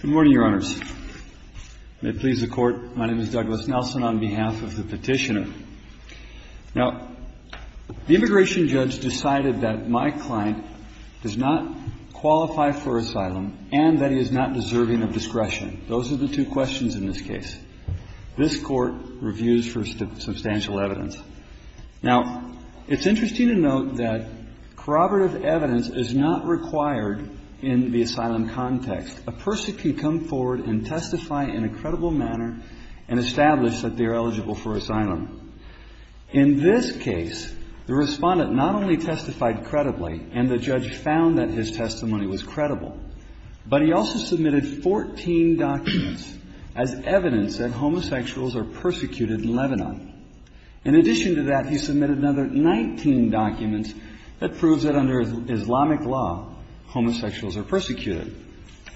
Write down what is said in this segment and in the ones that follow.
Good morning, Your Honors. May it please the Court, my name is Douglas Nelson on behalf of the Petitioner. Now, the immigration judge decided that my client does not qualify for asylum and that he is not deserving of discretion. Those are the two questions in this case. This Court reviews for substantial evidence. Now, it's interesting to note that corroborative evidence is not required in the asylum context. A person can come forward and testify in a credible manner and establish that they are eligible for asylum. In this case, the respondent not only testified credibly and the judge found that his testimony was credible, but he also submitted 14 documents as evidence that homosexuals are persecuted in Lebanon. In addition to that, he submitted another 19 documents that proves that under Islamic law, homosexuals are persecuted.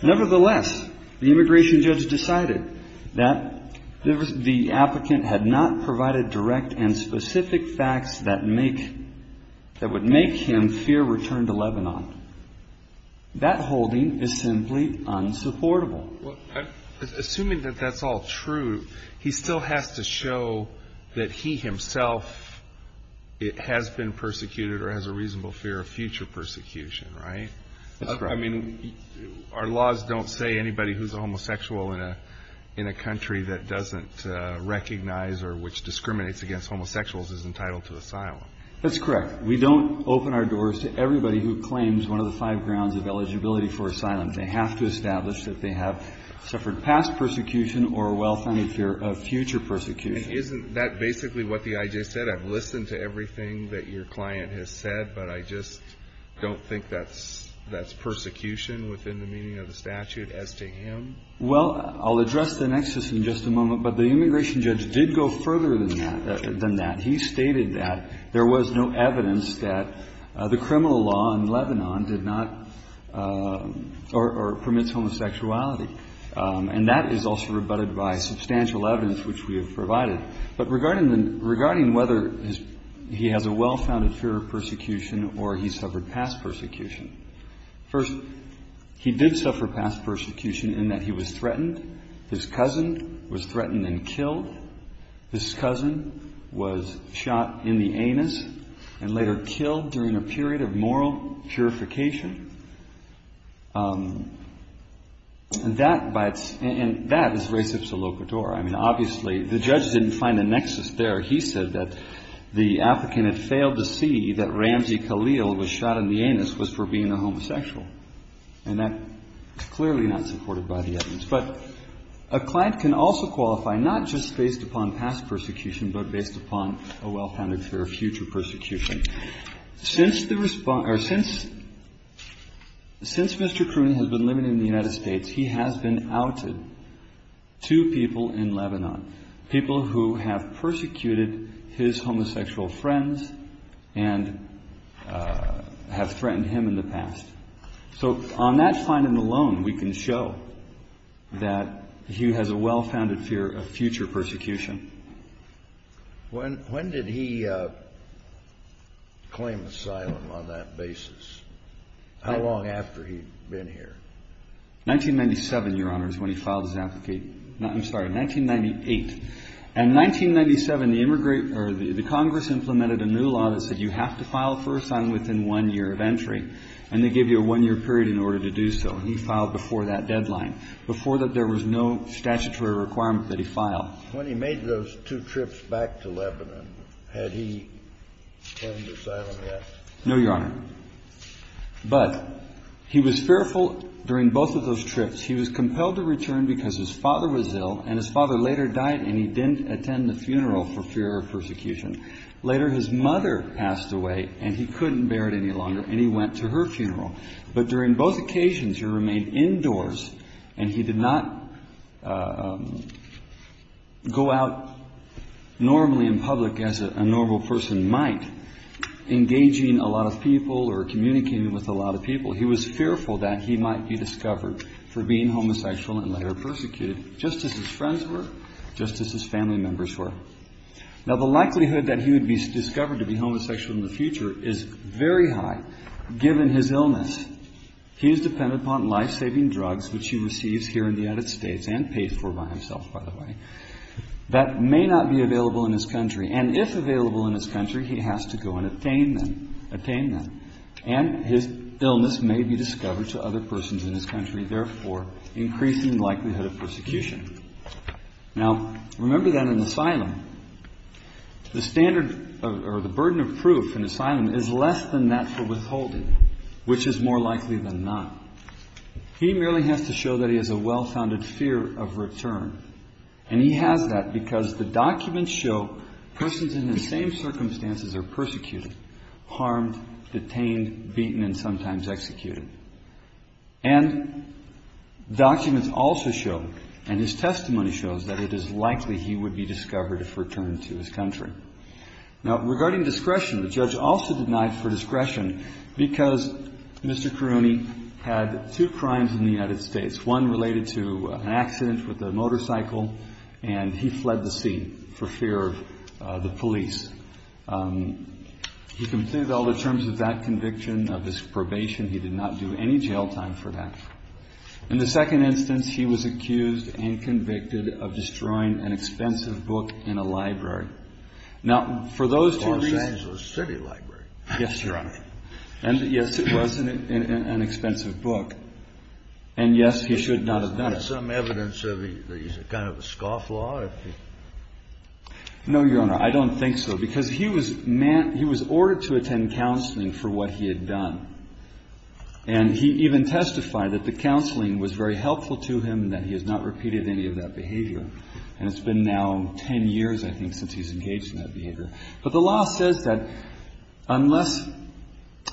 Nevertheless, the immigration judge decided that the applicant had not provided direct and specific facts that make, that would make him fear return to Lebanon. That holding is simply unsupportable. Well, assuming that that's all true, he still has to show that he himself has been persecuted or has a reasonable fear of future persecution, right? That's correct. I mean, our laws don't say anybody who's a homosexual in a country that doesn't recognize or which discriminates against homosexuals is entitled to asylum. That's correct. We don't open our doors to everybody who claims one of the five grounds of eligibility for asylum. They have to establish that they have suffered past persecution or a well-founded fear of future persecution. And isn't that basically what the I.J. said? I've listened to everything that your client has said, but I just don't think that's persecution within the meaning of the statute as to him? Well, I'll address the nexus in just a moment, but the immigration judge did go further than that. He stated that there was no evidence that the criminal law in Lebanon did not or permits homosexuality. And that is also rebutted by substantial evidence which we have provided. But regarding whether he has a well-founded fear of persecution or he suffered past persecution, first, he did suffer past persecution in that he was threatened, his cousin was threatened and killed, his cousin was shot in the anus and later killed during a period of moral purification. And that is res ipsa loca dora. I mean, obviously, the judge didn't find a nexus there. He said that the applicant had failed to see that Ramzi Khalil was shot in the anus was for being a homosexual. And that's clearly not supported by the evidence. But a client can also qualify not just based upon past persecution, but based upon a well-founded fear of future persecution. Since the response or since Mr. Crooney has been living in the United States, he has been outed to people in Lebanon, people who have persecuted his homosexual friends and have threatened him in the past. So on that finding alone, we can show that he has a well-founded fear of future persecution. When did he claim asylum on that basis? How long after he'd been here? 1997, Your Honor, is when he filed his application. I'm sorry, 1998. And in 1997, the Congress implemented a new law that said you have to file for asylum within one year of entry. And they gave you a one-year period in order to do so. And he filed before that deadline, before there was no statutory requirement that he file. When he made those two trips back to Lebanon, had he claimed asylum yet? No, Your Honor. But he was fearful during both of those trips. He was compelled to return because his father was ill, and his father later died, and he didn't attend the funeral for fear of persecution. Later, his mother passed away, and he couldn't bear it any longer, and he went to her funeral. But during both occasions, he remained indoors, and he did not go out normally in public as a normal person might, engaging a lot of people or communicating with a lot of people. He was fearful that he might be discovered for being homosexual and later persecuted, just as his friends were, just as his family members were. Now, the likelihood that he would be discovered to be homosexual in the future is very high, given his illness. He is dependent upon life-saving drugs, which he receives here in the United States, and paid for by himself, by the way, that may not be available in his country. And if available in his country, he has to go and attain them. And his illness may be discovered to other persons in his country, therefore increasing the likelihood of persecution. Now, remember that in asylum, the standard or the burden of proof in asylum is less than that for withholding, which is more likely than not. He merely has to show that he has a well-founded fear of return, and he has that because the documents show persons in the same circumstances are persecuted, harmed, detained, beaten, and sometimes executed. And documents also show, and his testimony shows, that it is likely he would be discovered if returned to his country. Now, regarding discretion, the judge also denied for discretion because Mr. Karouni had two crimes in the United States, one related to an accident with a motorcycle, and he fled the scene for fear of the police. He completed all the terms of that conviction, of his probation. He did not do any jail time for that. In the second instance, he was accused and convicted of destroying an expensive book in a library. Now, for those two reasons... The Los Angeles City Library. Yes, Your Honor. And yes, it was an expensive book. And yes, he should not have done it. Is there some evidence that he's kind of a scofflaw? No, Your Honor, I don't think so, because he was ordered to attend counseling for what he had done. And he even testified that the counseling was very helpful to him and that he has not repeated any of that behavior. And it's been now 10 years, I think, since he's engaged in that behavior. But the law says that unless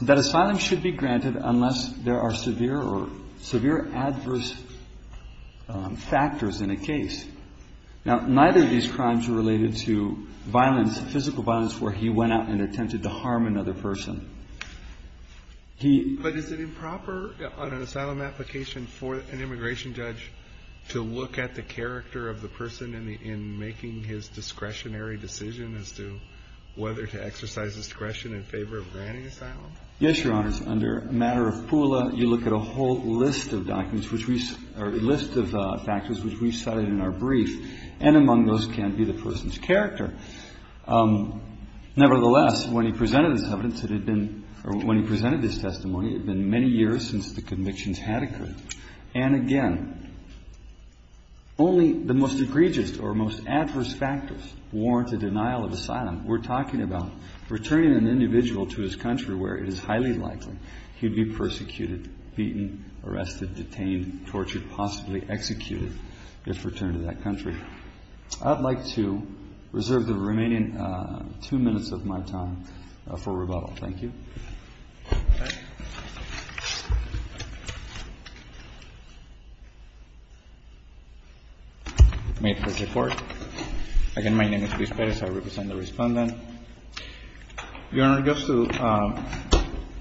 that asylum should be granted unless there are severe or severe adverse factors in a case. Now, neither of these crimes are related to violence, physical violence, where he went out and attempted to harm another person. He... To look at the character of the person in making his discretionary decision as to whether to exercise discretion in favor of granting asylum? Yes, Your Honors. Under a matter of PULA, you look at a whole list of documents which we, or a list of factors which we cited in our brief. And among those can be the person's character. Nevertheless, when he presented his evidence, it had been, or when he presented his testimony, it had been many years since the convictions had occurred. And again, only the most egregious or most adverse factors warrant a denial of asylum. We're talking about returning an individual to his country where it is highly likely he'd be persecuted, beaten, arrested, detained, tortured, possibly executed if returned to that country. I'd like to reserve the remaining two minutes of my time for rebuttal. Thank you. May it please the Court. Again, my name is Luis Perez. I represent the Respondent. Your Honor, just to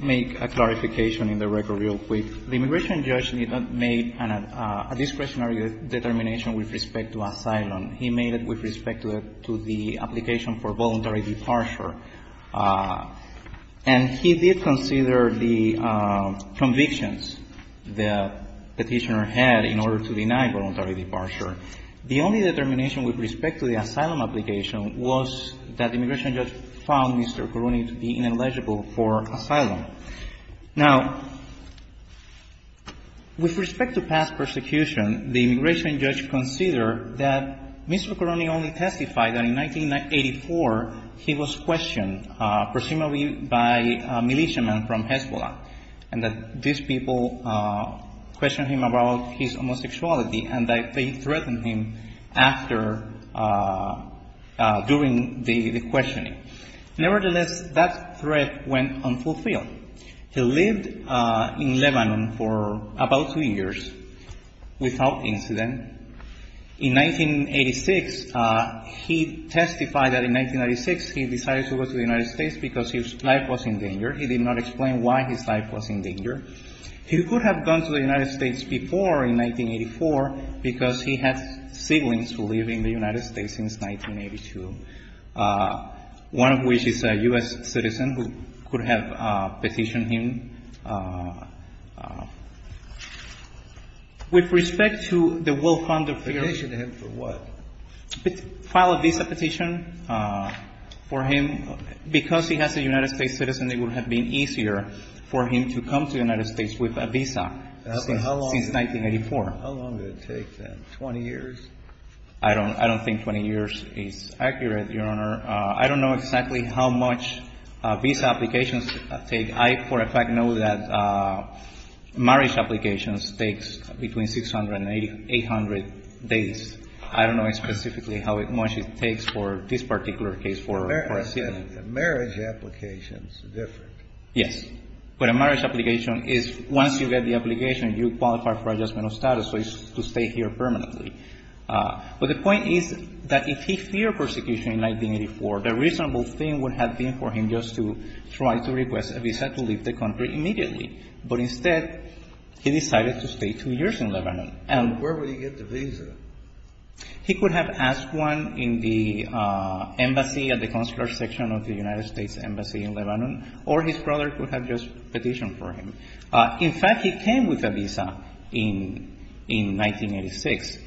make a clarification in the record real quick, the immigration judge made a discretionary determination with respect to asylum. He made it with respect to the application for voluntary departure. And he did consider the convictions, the Petitioner had in order to deny voluntary departure. The only determination with respect to the asylum application was that the immigration judge found Mr. Coroni to be ineligible for asylum. Now, with respect to past persecution, the immigration judge considered that Mr. Coroni only testified that in 1984 he was questioned, presumably by a militiaman from Hezbollah, and that these people questioned him about his homosexuality and that they threatened him after, during the questioning. Nevertheless, that threat went unfulfilled. He lived in Lebanon for about two years without incident. In 1986, he testified that in 1996 he decided to go to the United States because his life was in danger. He did not explain why he said his life was in danger. He could have gone to the United States before, in 1984, because he had siblings who lived in the United States since 1982, one of which is a U.S. citizen who could have petitioned him. With respect to the Will Fond of Fear Petitioned him for what? File a visa petition for him. Because he has a United States citizen, it would have been easier for him to come to the United States with a visa since 1984. How long did it take, then, 20 years? I don't think 20 years is accurate, Your Honor. I don't know exactly how much visa applications take. I, for a fact, know that marriage applications take between 600 and 800 days. I don't know specifically how much it takes for this particular case for a citizen. But a marriage application is different. Yes. But a marriage application is, once you get the application, you qualify for adjustment of status, so it's to stay here permanently. But the point is that if he feared persecution in 1984, the reasonable thing would have been for him just to try to request a visa to leave the country immediately. But instead, he decided to stay two years in Lebanon. And where would he get the visa? He could have asked one in the embassy, at the consular section of the United States embassy in Lebanon, or his brother could have just petitioned for him. In fact, he came with a visa in 1986.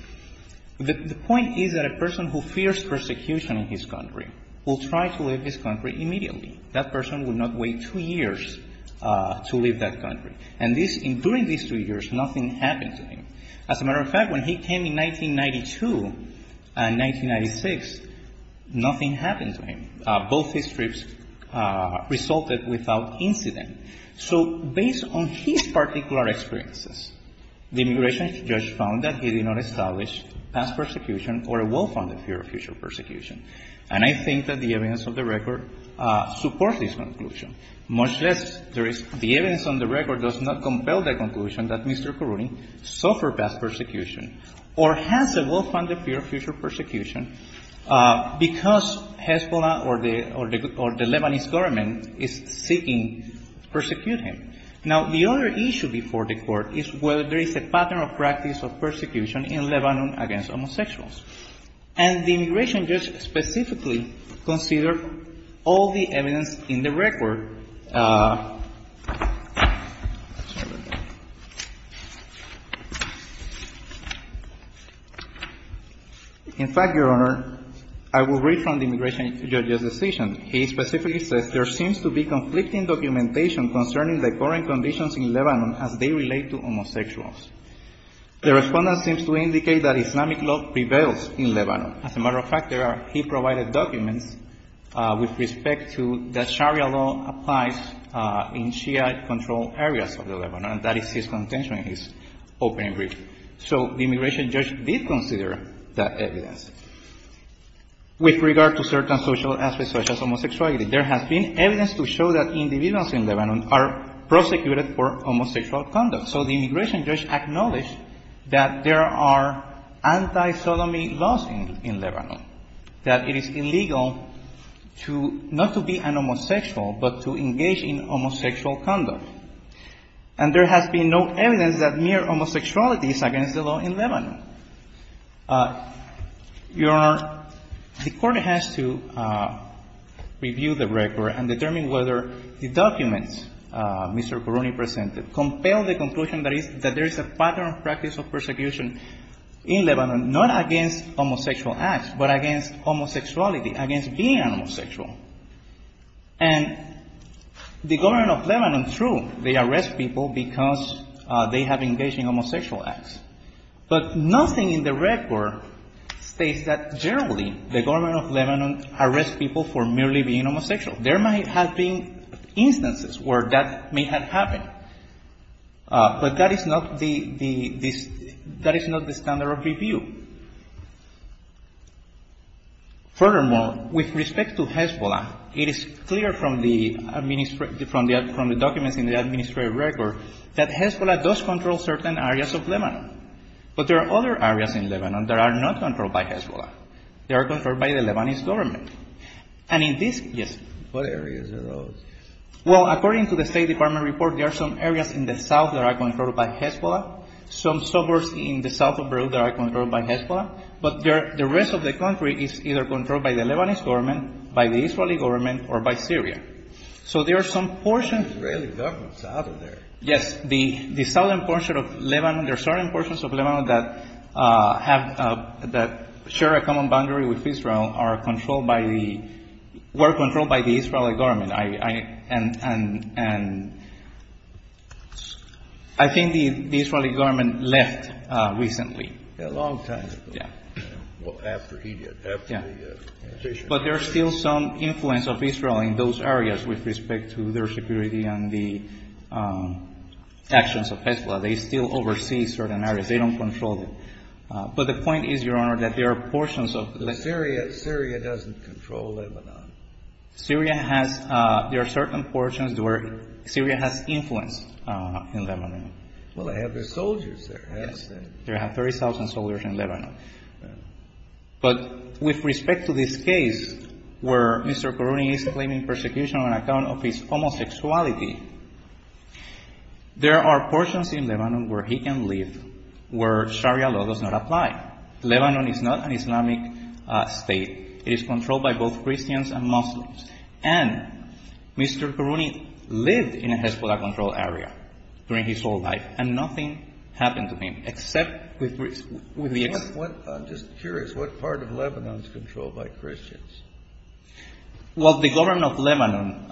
The point is that a person who fears persecution in his country will try to leave his country immediately. That person would not wait two years to leave that country. And during these two years, nothing happened to him. As a matter of fact, when he came in 1992 and 1996, nothing happened to him. Both his trips resulted without incident. So based on his particular experiences, the immigration judge found that he did not establish past persecution or a well-founded fear of future persecution. And I think that the evidence of the record supports this conclusion, much less there is the evidence on the record does not compel the immigration judge to establish past persecution or has a well-founded fear of future persecution because Hezbollah or the Lebanese government is seeking to persecute him. Now, the other issue before the Court is whether there is a pattern of practice of persecution in Lebanon against homosexuals. And the immigration judge specifically considered all the evidence in the record. In fact, Your Honor, I will read from the immigration judge's decision. He specifically says there seems to be conflicting documentation concerning the current conditions in Lebanon as they relate to homosexuals. The Respondent seems to indicate that Islamic law prevails in Lebanon. As a matter of fact, there are key provided documents in Shia-controlled areas of the Lebanon, and that is his contention in his opening briefing. So the immigration judge did consider that evidence. With regard to certain social aspects such as homosexuality, there has been evidence to show that individuals in Lebanon are prosecuted for homosexual conduct. So the immigration judge acknowledged that there are anti-sodomy laws in Lebanon, that it is illegal to not to be an homosexual, but to engage in homosexual conduct. And there has been no evidence that mere homosexuality is against the law in Lebanon. Your Honor, the Court has to review the record and determine whether the documents Mr. Coruñi presented compel the conclusion that there is a pattern of practice of persecution in Lebanon against being an homosexual. And the government of Lebanon, true, they arrest people because they have engaged in homosexual acts. But nothing in the record states that generally the government of Lebanon arrests people for merely being homosexual. There might have been instances where that may have happened. But that is not the the this that is not the standard of review. Furthermore, with respect to Hezbollah, it is clear from the administrative from the documents in the administrative record that Hezbollah does control certain areas of Lebanon. But there are other areas in Lebanon that are not controlled by Hezbollah. They are controlled by the Lebanese government. And in this Yes. What areas are those? Well, according to the State Department report, there are some areas in the south that are controlled by Hezbollah, some suburbs in the south of Peru that are controlled by Hezbollah. But the rest of the country is either controlled by the Lebanese government, by the Israeli government, or by Syria. So there are some portions. Israeli government is out of there. Yes. The southern portion of Lebanon, there are certain portions of Lebanon that have that share a common boundary with Israel, are controlled by the were controlled by the Israeli government. And I think the Israeli government left recently. A long time ago. Yeah. Well, after he did. Yeah. But there are still some influence of Israel in those areas with respect to their security and the actions of Hezbollah. They still oversee certain areas. They don't control them. But the point is, Your Honor, that there are portions of Syria, Syria doesn't control Lebanon. Syria has, there are certain portions where Syria has influence in Lebanon. Well, they have their soldiers there, hasn't they? They have 30,000 soldiers in Lebanon. But with respect to this case where Mr. Karouni is claiming persecution on account of his homosexuality, there are portions in Lebanon where he can live, where Sharia law does not apply. Lebanon is not an Islamic state. It is controlled by both Christians and Muslims. And Mr. Karouni lived in a Hezbollah-controlled area during his whole life, and nothing happened to him, except with the... I'm just curious, what part of Lebanon is controlled by Christians? Well, the government of Lebanon,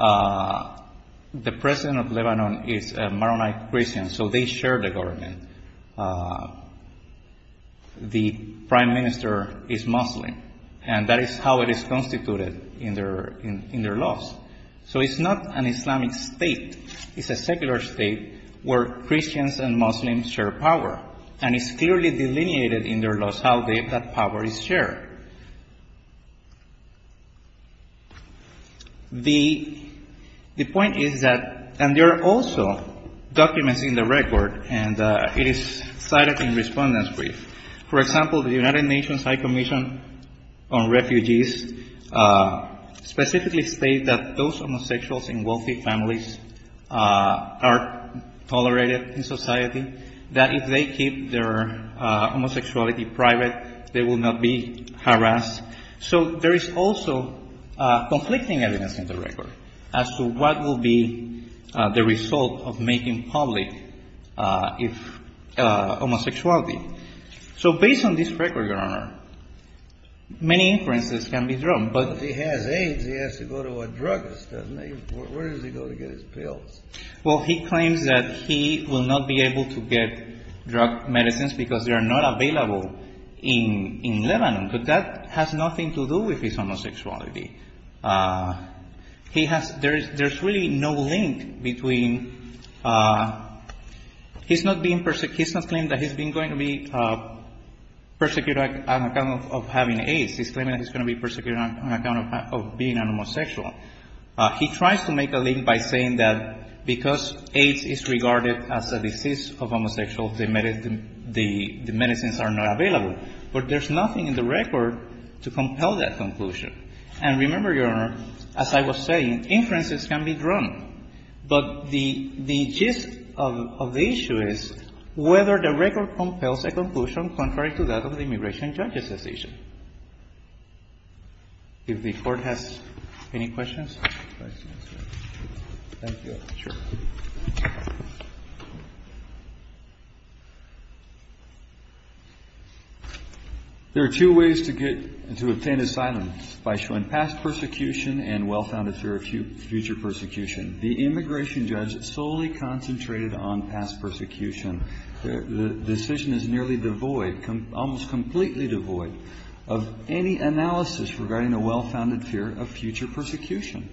the president of Lebanon is a Maronite Christian, so they share the government. The prime minister is Muslim, and that is how it is constituted in their laws. So it's not an Islamic state. It's a secular state where Christians and Muslims share power, and it's clearly delineated in their laws how that power is shared. The point is that, and there are also documents in the record, and it is cited in Respondent's Brief. For example, the United Nations High Commission on Refugees specifically states that those homosexuals in wealthy families are tolerated in society, that if they keep their homosexuality private, they will not be harassed. So there is also conflicting evidence in the record as to what will be the result of making public homosexuality. So based on this record, Your Honor, many inferences can be drawn. But if he has AIDS, he has to go to a drugist, doesn't he? Where does he go to get his pills? Well, he claims that he will not be able to get drug medicines because they are not available in Lebanon, but that has nothing to do with his homosexuality. There is really no link between — he's not being — he's not claiming that he's been going to be persecuted on account of having AIDS. He's claiming that he's going to be persecuted on account of being a homosexual. He tries to make a link by saying that because AIDS is regarded as a disease of homosexuals, the medicines are not available. But there's nothing in the record to compel that conclusion. And remember, Your Honor, as I was saying, inferences can be drawn. But the gist of the issue is whether the record compels a conclusion contrary to that of the immigration judge's decision. If the Court has any questions. There are two ways to get — to obtain asylum, by showing past persecution and well-founded fear of future persecution. The immigration judge solely concentrated on past persecution. The decision is nearly devoid, almost completely devoid, of any analysis regarding a well-founded fear of future persecution.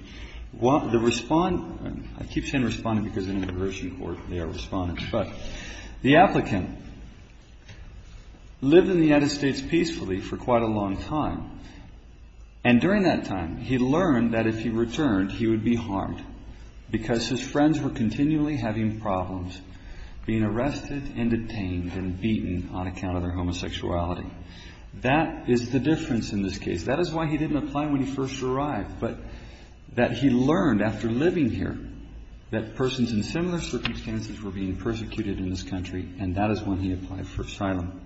The immigration judge's decision — I keep saying respondent because in an immigration court they are respondents — but the applicant lived in the United States peacefully for quite a long time. And during that time, he learned that if he returned, he would be harmed because his friends were continually having problems, being arrested and detained and beaten on account of their homosexuality. That is the difference in this case. That is why he didn't apply when he first arrived, but that he learned after living here that persons in similar circumstances were being persecuted in this country, and that is when he applied for asylum.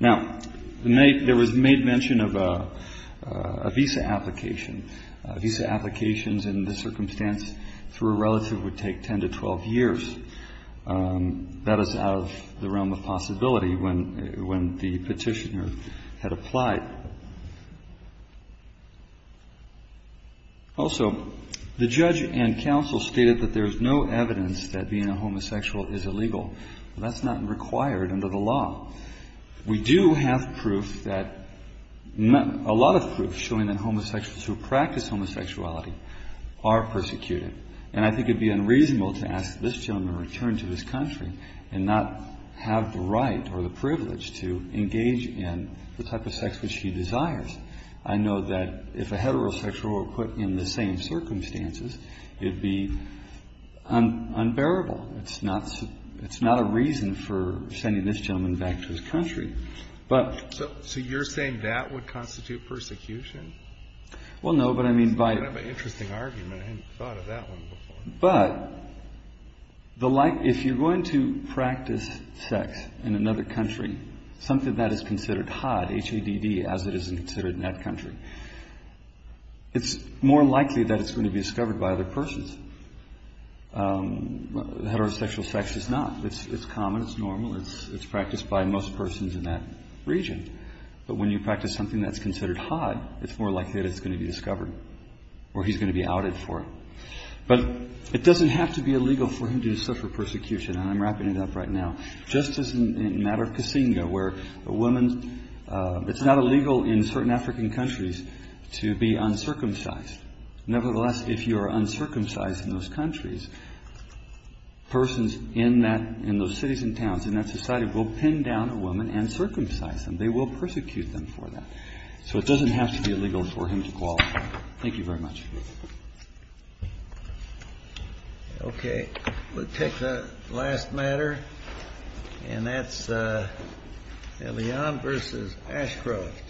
Now, there was made mention of a visa application. Visa applications in this circumstance through a relative would take 10 to 12 years. That is out of the realm of possibility when the petitioner had applied. Also, the judge and counsel stated that there is no evidence that being a homosexual is illegal. That is not required under the law. We do have proof that — a lot of proof showing that homosexuals who practice homosexuality are persecuted. And I think it would be a privilege to engage in the type of sex which he desires. I know that if a heterosexual were put in the same circumstances, it would be unbearable. It's not a reason for sending this gentleman back to his country. But — So you're saying that would constitute persecution? Well, no, but I mean by — That's kind of an interesting argument. I hadn't thought of that one before. But if you're going to practice sex in another country, something that is considered HADD, as it is considered in that country, it's more likely that it's going to be discovered by other persons. Heterosexual sex is not. It's common. It's normal. It's practiced by most persons in that region. But when you practice something that's considered HADD, it's more likely that it's going to be discovered or he's going to be outed for it. But it doesn't have to be illegal for him to suffer persecution. And I'm wrapping it up right now. Just as in the matter of Kasinga, where a woman — it's not illegal in certain African countries to be uncircumcised. Nevertheless, if you are uncircumcised in those countries, persons in that — in those cities and towns, in that society, will pin down a woman and circumcise them. They will persecute them for that. So it doesn't have to be illegal for him to qualify. Thank you very much. Okay. We'll take the last matter. And that's Elion versus Ashcroft.